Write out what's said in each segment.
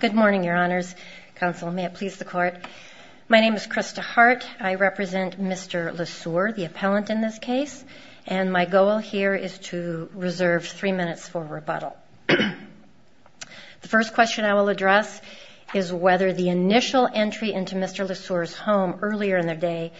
Good morning, Your Honors. Counsel, may it please the Court. My name is Krista Hart. I represent Mr. Lesueur, the appellant in this case, and my goal here is to reserve three minutes for rebuttal. The first question I will address is whether the initial entry into Mr. Lesueur's home earlier in the day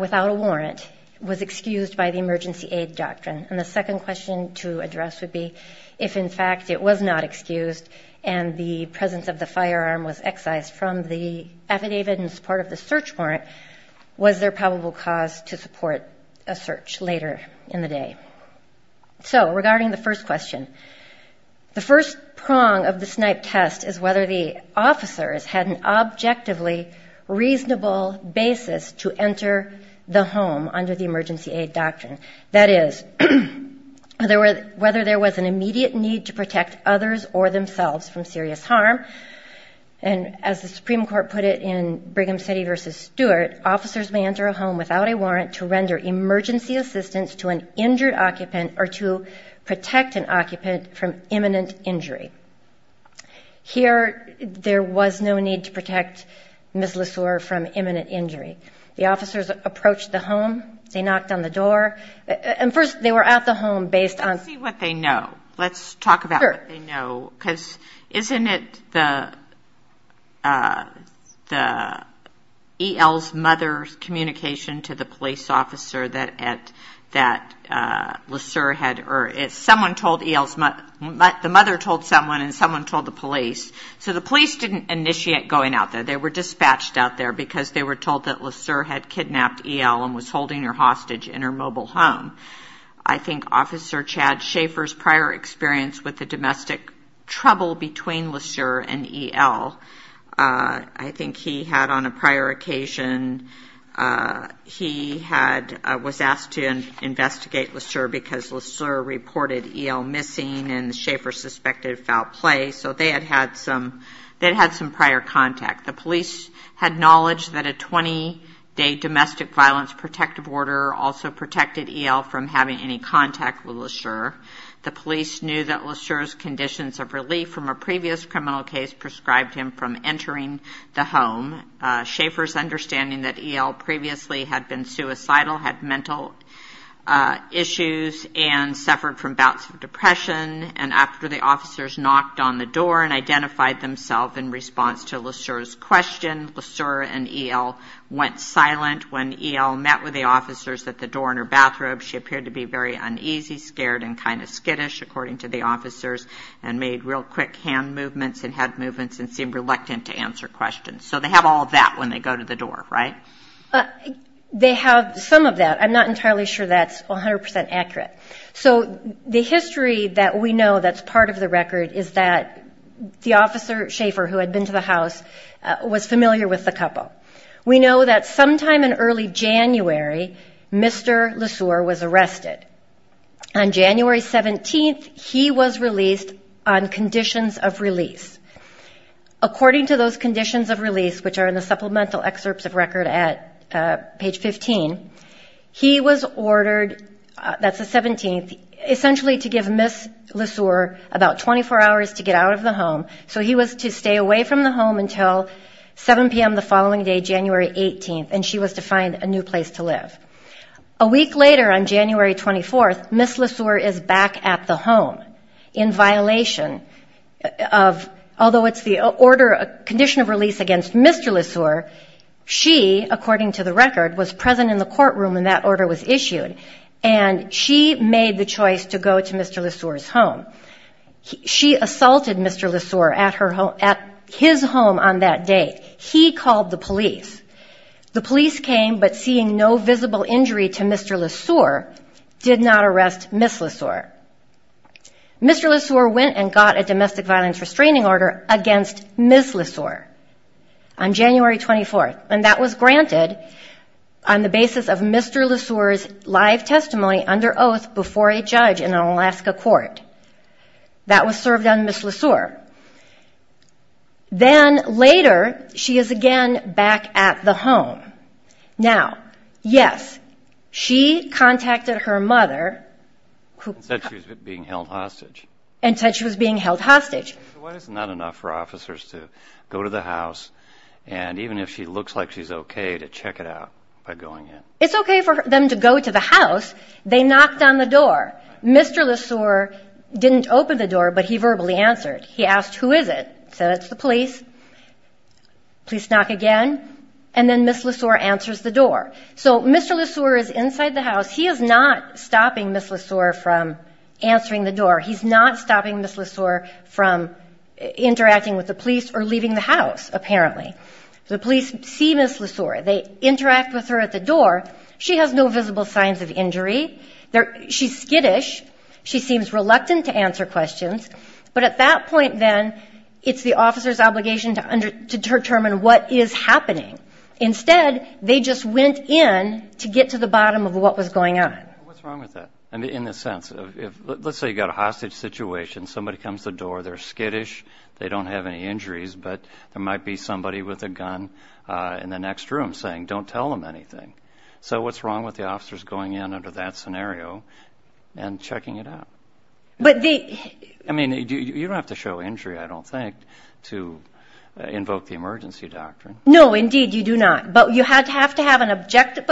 without a warrant was excused by the emergency aid doctrine. And the second question to address would be if, in fact, it was not excused and the presence of the firearm was excised from the affidavit in support of the search warrant, was there probable cause to support a search later in the day? So regarding the first question, the first prong of the snipe test is whether the officers had an objectively reasonable basis to enter the home under the emergency aid doctrine. That is, whether there was an immediate need to protect others or themselves from serious harm. And as the Supreme Court put it in Brigham City v. Stewart, officers may enter a home without a warrant to render emergency assistance to an injured officer. And the third prong of the snipe test is whether there was a need to protect an occupant from imminent injury. Here, there was no need to protect Ms. Lesueur from imminent injury. The officers approached the home, they knocked on the door, and first they were at the home based on... The mother told someone and someone told the police. So the police didn't initiate going out there. They were dispatched out there because they were told that Lesueur had kidnapped E.L. and was holding her hostage in her mobile home. I think Officer Chad Schaefer's prior experience with the domestic trouble between Lesueur and E.L., I think he had on a prior occasion, he was asked to investigate Lesueur because Lesueur reported E.L. missing and Schaefer suspected foul play. So they had had some prior contact. The police had knowledge that a 20-day domestic violence protective order also protected E.L. from having any contact with Lesueur. The police knew that Lesueur's conditions of relief from a previous criminal case prescribed him from entering the home. Schaefer's understanding that E.L. previously had been suicidal, had mental issues, and suffered from bouts of depression, and after the officers knocked on the door and identified themselves in response to Lesueur's question, Lesueur and E.L. went silent. When E.L. met with the officers at the door in her bathrobe, she appeared to be very uneasy, scared, and kind of skittish, according to the officers, and made real quick hand movements and head movements and seemed reluctant to answer questions. So they have all of that when they go to the door, right? They have some of that. I'm not entirely sure that's 100% accurate. So the history that we know that's part of the record is that the officer, Schaefer, who had been to the house, was familiar with the couple. We know that sometime in early January, Mr. Lesueur was arrested. On January 17th, he was released on conditions of release. According to those conditions of release, which are in the supplemental excerpts of record at page 15, he was ordered, that's the 17th, essentially to give Ms. Lesueur about 24 hours to get out of the home, so he was to stay away from the home until 7 p.m. the following day. January 18th, and she was to find a new place to live. A week later, on January 24th, Ms. Lesueur is back at the home in violation of, although it's the order, condition of release against Mr. Lesueur, she, according to the record, was present in the courtroom when that order was issued, and she made the choice to go to Mr. Lesueur's home. She assaulted Mr. Lesueur at his home on that day. He called the police. The police came, but seeing no visible injury to Mr. Lesueur, did not arrest Ms. Lesueur. Mr. Lesueur went and got a domestic violence restraining order against Ms. Lesueur on January 24th, and that was granted on the basis of Mr. Lesueur's live testimony under oath before a judge in an Alaska court. That was served on Ms. Lesueur. Then, later, she is again back at the home. Now, yes, she contacted her mother, and said she was being held hostage. Why is it not enough for officers to go to the house, and even if she looks like she's okay, to check it out by going in? It's okay for them to go to the house. They knocked on the door. Mr. Lesueur didn't open the door, but he verbally answered. He asked, who is it? Said, it's the police. Police knock again, and then Ms. Lesueur answers the door. So, Mr. Lesueur is inside the house. He is not stopping Ms. Lesueur from answering the door. He's not stopping Ms. Lesueur from interacting with the police or leaving the house, apparently. The police see Ms. Lesueur. They interact with her at the door. She has no visible signs of injury. She's skittish. She seems reluctant to answer questions. But at that point, then, it's the officer's obligation to determine what is happening. Instead, they just went in to get to the bottom of what was going on. What's wrong with that? In the sense of, let's say you've got a hostage situation. Somebody comes to the door. They're skittish. They don't have any injuries, but there might be somebody with a gun in the next room saying, don't tell them anything. So, what's wrong with the officers going in under that scenario and checking it out? I mean, you don't have to show injury, I don't think, to invoke the emergency doctrine. No, indeed, you do not. But you have to have an objective,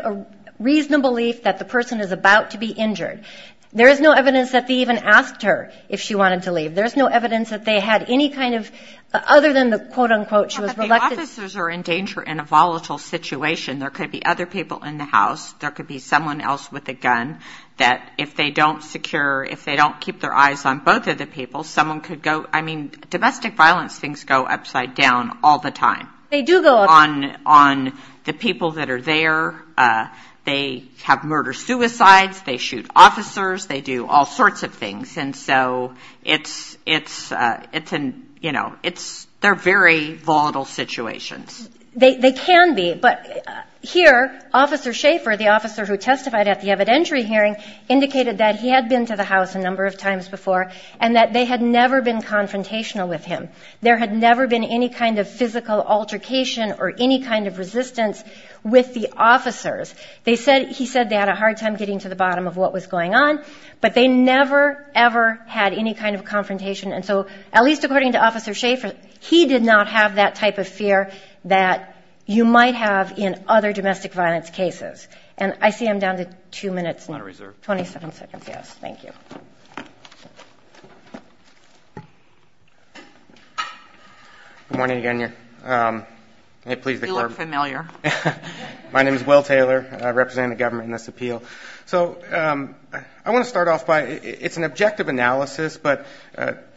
a reasonable belief that the person is about to be injured. There is no evidence that they even asked her if she wanted to leave. There's no evidence that they had any kind of, other than the quote-unquote, she was reluctant. But the officers are in danger in a volatile situation. There could be other people in the house. There could be someone else with a gun that, if they don't secure, if they don't keep their eyes on both of the people, someone could go, I mean, domestic violence things go upside down all the time. On the people that are there, they have murder-suicides, they shoot officers, they do all sorts of things. And so it's, you know, it's, they're very volatile situations. They can be, but here, Officer Schaefer, the officer who testified at the evidentiary hearing, indicated that he had been to the house a number of times before and that they had never been confrontational with him. There had never been any kind of physical altercation or any kind of resistance with the officers. They said, he said they had a hard time getting to the bottom of what was going on, but they never, ever had any kind of confrontation. And so, at least according to Officer Schaefer, he did not have that type of fear that you might have in other domestic violence cases. And I see I'm down to two minutes and 27 seconds. Yes. Thank you. Good morning again. You look familiar. My name is Will Taylor. I represent the government in this appeal. So I want to start off by, it's an objective analysis, but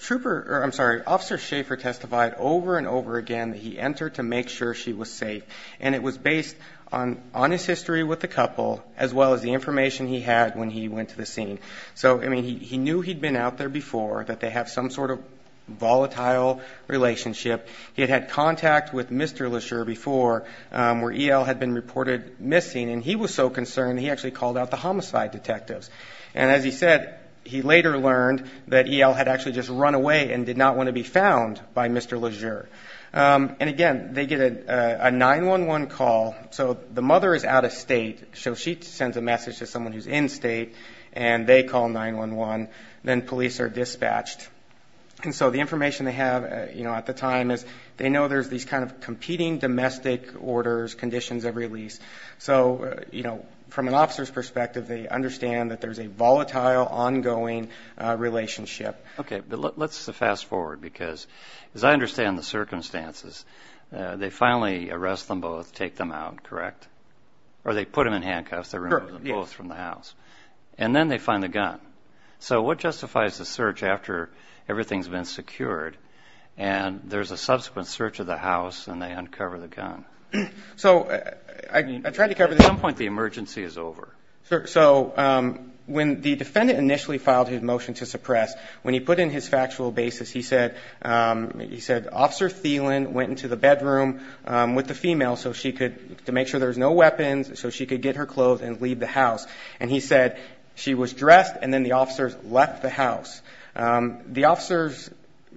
Trooper, I'm sorry, Officer Schaefer testified over and over again that he entered to make sure she was safe. And it was based on his history with the couple, as well as the information he had when he went to the scene. So, I mean, he knew he'd been out there before, that they have some sort of volatile relationship. He had had contact with Mr. Legere before, where E.L. had been reported missing. And he was so concerned, he actually called out the homicide detectives. And as he said, he later learned that E.L. had actually just run away and did not want to be found by Mr. Legere. And again, they get a 911 call. So the mother is out of state, so she sends a message to someone who's in state, and they call 911. Then police are dispatched. And so the information they have, you know, at the time is they know there's these kind of competing domestic orders, conditions of release. So, you know, from an officer's perspective, they understand that there's a volatile, ongoing relationship. Okay, but let's fast forward, because as I understand the circumstances, they finally arrest them both, take them out, correct? Or they put them in handcuffs, they remove them both from the house. And then they find the gun. So what justifies the search after everything's been secured, and there's a subsequent search of the house, and they uncover the gun? So, I mean, I tried to cover this. At some point, the emergency is over. So when the defendant initially filed his motion to suppress, when he put in his factual basis, he said, Officer Thielen went into the bedroom with the female to make sure there was no weapons, so she could get her clothes and leave the house. And he said she was dressed, and then the officers left the house. The officers,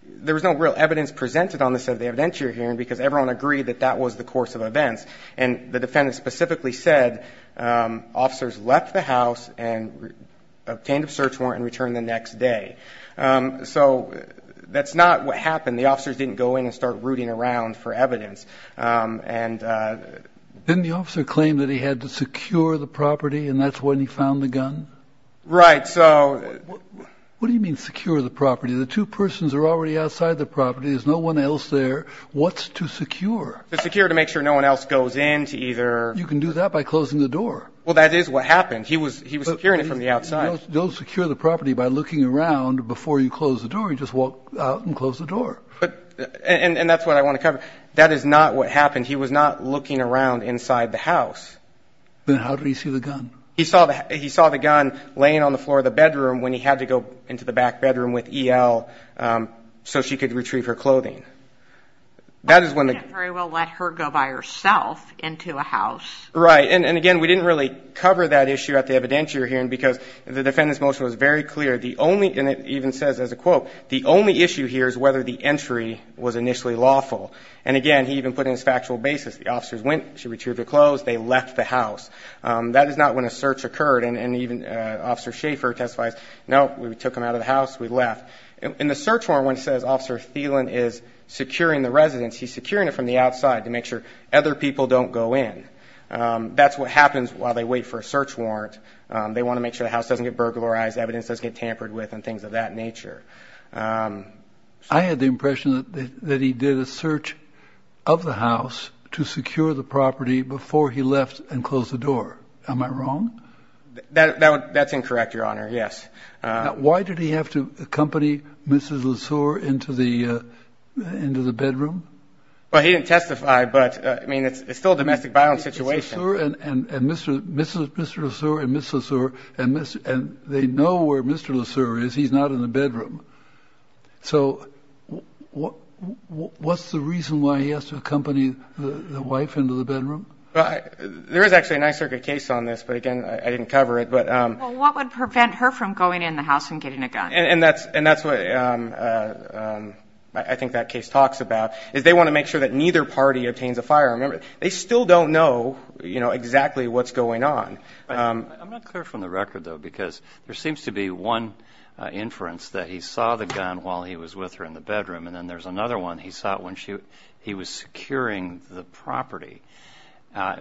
there was no real evidence presented on this at the evidentiary hearing, because everyone agreed that that was the course of events. And the defendant specifically said officers left the house and obtained a search warrant and returned the next day. So that's not what happened. The officers didn't go in and start rooting around for evidence. Didn't the officer claim that he had to secure the property, and that's when he found the gun? Right, so. What do you mean, secure the property? The two persons are already outside the property. There's no one else there. What's to secure? To secure to make sure no one else goes in to either. You can do that by closing the door. Well, that is what happened. He was securing it from the outside. Don't secure the property by looking around before you close the door. You just walk out and close the door. And that's what I want to cover. That is not what happened. He was not looking around inside the house. Then how did he see the gun? He saw the gun laying on the floor of the bedroom when he had to go into the back bedroom with E.L. so she could retrieve her clothing. I can't very well let her go by herself into a house. Right. And, again, we didn't really cover that issue at the evidentiary hearing because the defendant's motion was very clear. And it even says as a quote, the only issue here is whether the entry was initially lawful. And, again, he even put in his factual basis. The officers went, she retrieved her clothes, they left the house. That is not when a search occurred. And even Officer Schaefer testifies, no, we took them out of the house, we left. In the search warrant when it says Officer Thielen is securing the residence, he's securing it from the outside to make sure other people don't go in. That's what happens while they wait for a search warrant. They want to make sure the house doesn't get burglarized, evidence doesn't get tampered with, and things of that nature. I had the impression that he did a search of the house to secure the property before he left and closed the door. Am I wrong? That's incorrect, Your Honor, yes. Why did he have to accompany Mrs. Lesur into the bedroom? Well, he didn't testify, but, I mean, it's still a domestic violence situation. Mr. Lesur and Mrs. Lesur, and they know where Mr. Lesur is. He's not in the bedroom. So what's the reason why he has to accompany the wife into the bedroom? There is actually a Ninth Circuit case on this, but, again, I didn't cover it. Well, what would prevent her from going in the house and getting a gun? And that's what I think that case talks about, is they want to make sure that neither party obtains a firearm. Remember, they still don't know exactly what's going on. I'm not clear from the record, though, because there seems to be one inference that he saw the gun while he was with her in the bedroom, and then there's another one, he saw it when he was securing the property,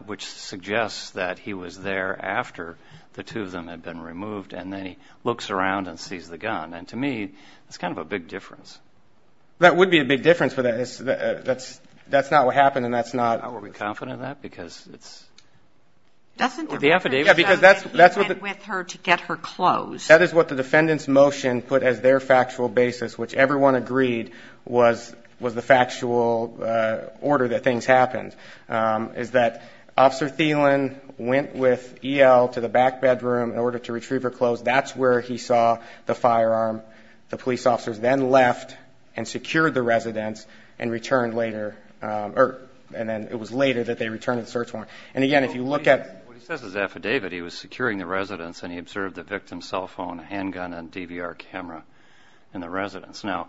which suggests that he was there after the two of them had been removed, and then he looks around and sees the gun. And to me, it's kind of a big difference. That would be a big difference, but that's not what happened, and that's not. Are we confident of that, because it's... Doesn't the record show that he went with her to get her clothes? That is what the defendant's motion put as their factual basis, which everyone agreed was the factual order that things happened, is that Officer Thielen went with E.L. to the back bedroom in order to retrieve her clothes. That's where he saw the firearm. The police officers then left and secured the residence and returned later. And then it was later that they returned the search warrant. And, again, if you look at... in the residence. Now,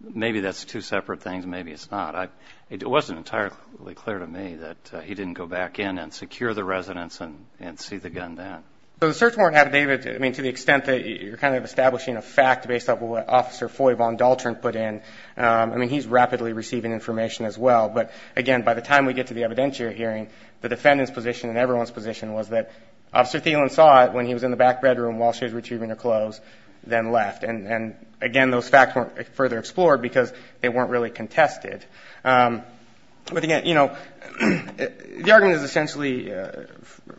maybe that's two separate things. Maybe it's not. It wasn't entirely clear to me that he didn't go back in and secure the residence and see the gun then. So the search warrant, David, I mean, to the extent that you're kind of establishing a fact based on what Officer Foy von Daltern put in, I mean, he's rapidly receiving information as well. But, again, by the time we get to the evidentiary hearing, the defendant's position and everyone's position was that Officer Thielen saw it when he was in the back bedroom while she was retrieving her clothes, then left. And, again, those facts weren't further explored because they weren't really contested. But, again, you know, the argument is essentially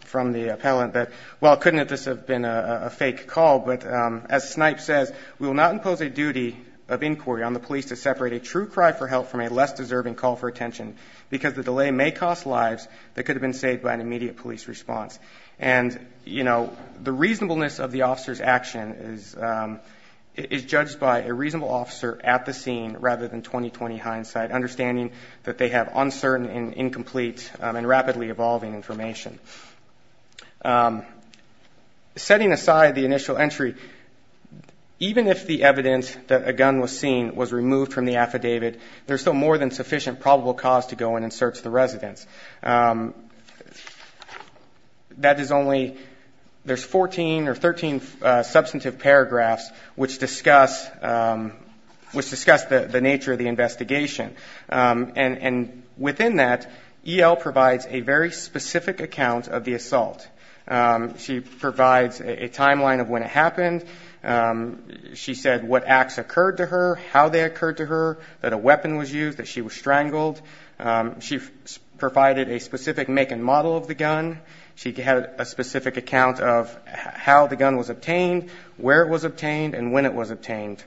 from the appellant that, well, couldn't this have been a fake call? But as Snipe says, we will not impose a duty of inquiry on the police to separate a true cry for help from a less deserving call for attention because the delay may cost lives that could have been saved by an immediate police response. And, you know, the reasonableness of the officer's action is judged by a reasonable officer at the scene rather than 20-20 hindsight, understanding that they have uncertain and incomplete and rapidly evolving information. Setting aside the initial entry, even if the evidence that a gun was seen was removed from the affidavit, there's still more than sufficient probable cause to go in and search the residence. That is only 14 or 13 substantive paragraphs which discuss the nature of the investigation. And within that, E.L. provides a very specific account of the assault. She provides a timeline of when it happened. She said what acts occurred to her, how they occurred to her, that a weapon was used, that she was strangled. She provided a specific make and model of the gun. She had a specific account of how the gun was obtained, where it was obtained, and when it was obtained.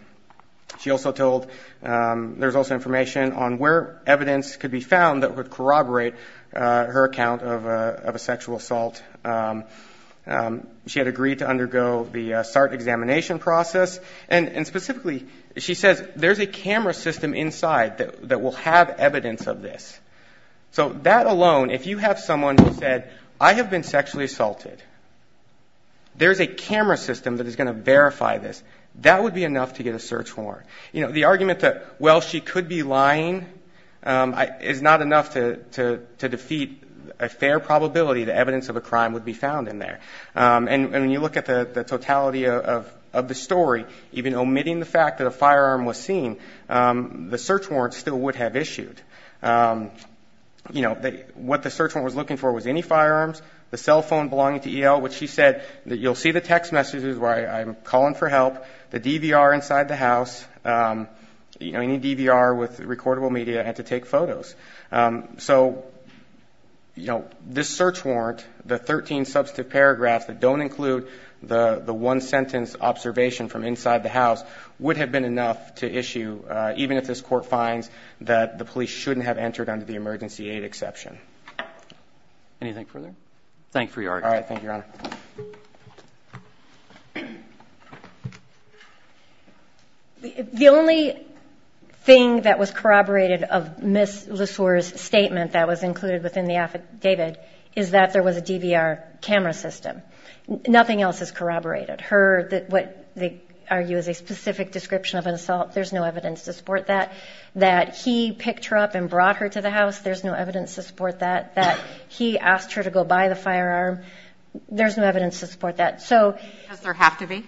She also told there's also information on where evidence could be found that would corroborate her account of a sexual assault. She had agreed to undergo the SART examination process. And specifically, she says there's a camera system inside that will have evidence of this. So that alone, if you have someone who said, I have been sexually assaulted, there's a camera system that is going to verify this, that would be enough to get a search warrant. You know, the argument that, well, she could be lying is not enough to defeat a fair probability that evidence of a crime would be found in there. And when you look at the totality of the story, even omitting the fact that a firearm was seen, the search warrant still would have issued. You know, what the search warrant was looking for was any firearms, the cell phone belonging to E.L., which she said, you'll see the text messages where I'm calling for help, the DVR inside the house, you know, any DVR with recordable media, and to take photos. So, you know, this search warrant, the 13 substantive paragraphs that don't include the one-sentence observation from inside the house, would have been enough to issue, even if this court finds that the police shouldn't have entered under the emergency aid exception. Anything further? Thank you for your argument. All right. Thank you, Your Honor. The only thing that was corroborated of Ms. LeSueur's statement that was included within the affidavit is that there was a DVR camera system. Nothing else is corroborated. Her, what they argue is a specific description of an assault, there's no evidence to support that. That he picked her up and brought her to the house, there's no evidence to support that. That he asked her to go by the firearm, there's no evidence to support that. Does there have to be?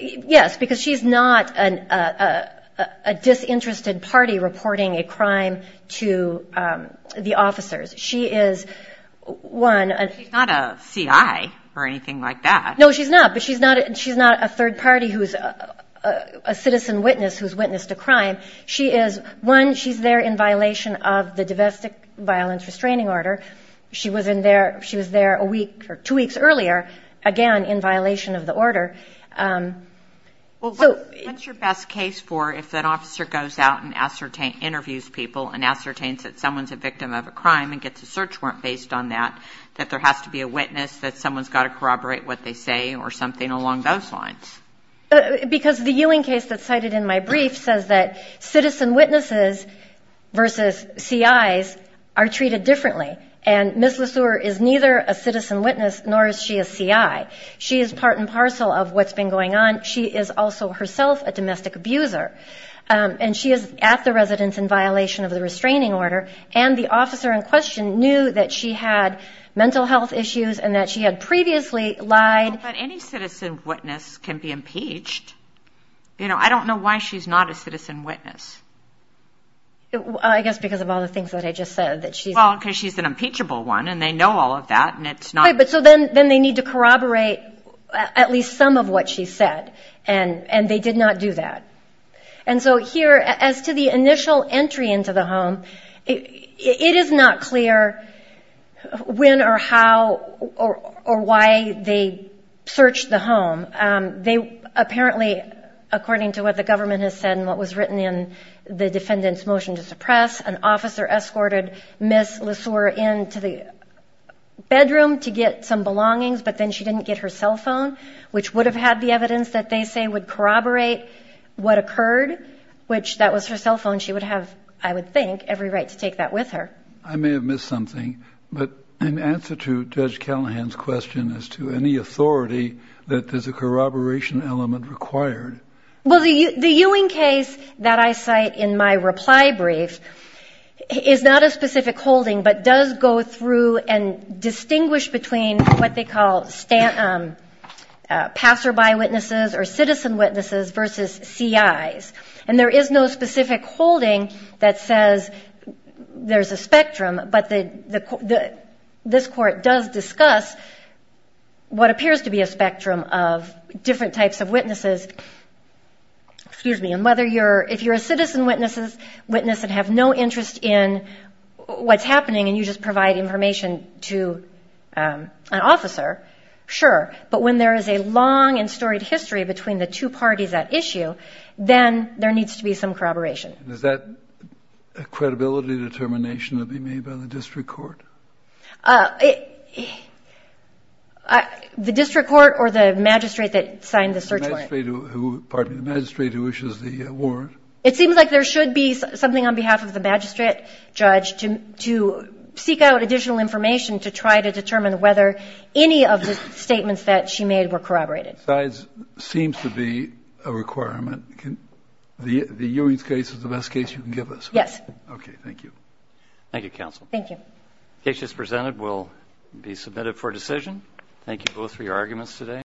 Yes, because she's not a disinterested party reporting a crime to the officers. She is, one... She's not a C.I. or anything like that. No, she's not, but she's not a third party who's a citizen witness who's witnessed a crime. One, she's there in violation of the domestic violence restraining order. She was there a week or two weeks earlier, again, in violation of the order. What's your best case for if an officer goes out and interviews people and ascertains that someone's a victim of a crime and gets a search warrant based on that, that there has to be a witness, that someone's got to corroborate what they say or something along those lines? Because the Ewing case that's cited in my brief says that citizen witnesses versus C.I.s are treated differently. And Ms. Lesur is neither a citizen witness nor is she a C.I. She is part and parcel of what's been going on. She is also herself a domestic abuser. And she is at the residence in violation of the restraining order. And the officer in question knew that she had mental health issues and that she had previously lied. But any citizen witness can be impeached. You know, I don't know why she's not a citizen witness. I guess because of all the things that I just said, that she's not. Well, because she's an impeachable one and they know all of that and it's not. But so then they need to corroborate at least some of what she said. And they did not do that. And so here, as to the initial entry into the home, it is not clear when or how or why they searched the home. They apparently, according to what the government has said and what was written in the defendant's motion to suppress, an officer escorted Ms. Lesur into the bedroom to get some belongings, but then she didn't get her cell phone, which would have had the evidence that they say would corroborate what occurred, which that was her cell phone. She would have, I would think, every right to take that with her. I may have missed something, but in answer to Judge Callahan's question as to any authority, that there's a corroboration element required. Well, the Ewing case that I cite in my reply brief is not a specific holding, but does go through and distinguish between what they call passerby witnesses or citizen witnesses versus CIs. And there is no specific holding that says there's a spectrum, but this court does discuss what appears to be a spectrum of different types of witnesses. Excuse me. And if you're a citizen witness and have no interest in what's happening and you just provide information to an officer, sure. But when there is a long and storied history between the two parties at issue, then there needs to be some corroboration. Is that a credibility determination to be made by the district court? The district court or the magistrate that signed the search warrant? The magistrate who issues the warrant. It seems like there should be something on behalf of the magistrate judge to seek out additional information to try to determine whether any of the statements that she made were corroborated. It seems to be a requirement. The Ewing case is the best case you can give us. Yes. Okay. Thank you. Thank you, counsel. Thank you. The case just presented will be submitted for decision. Thank you both for your arguments today.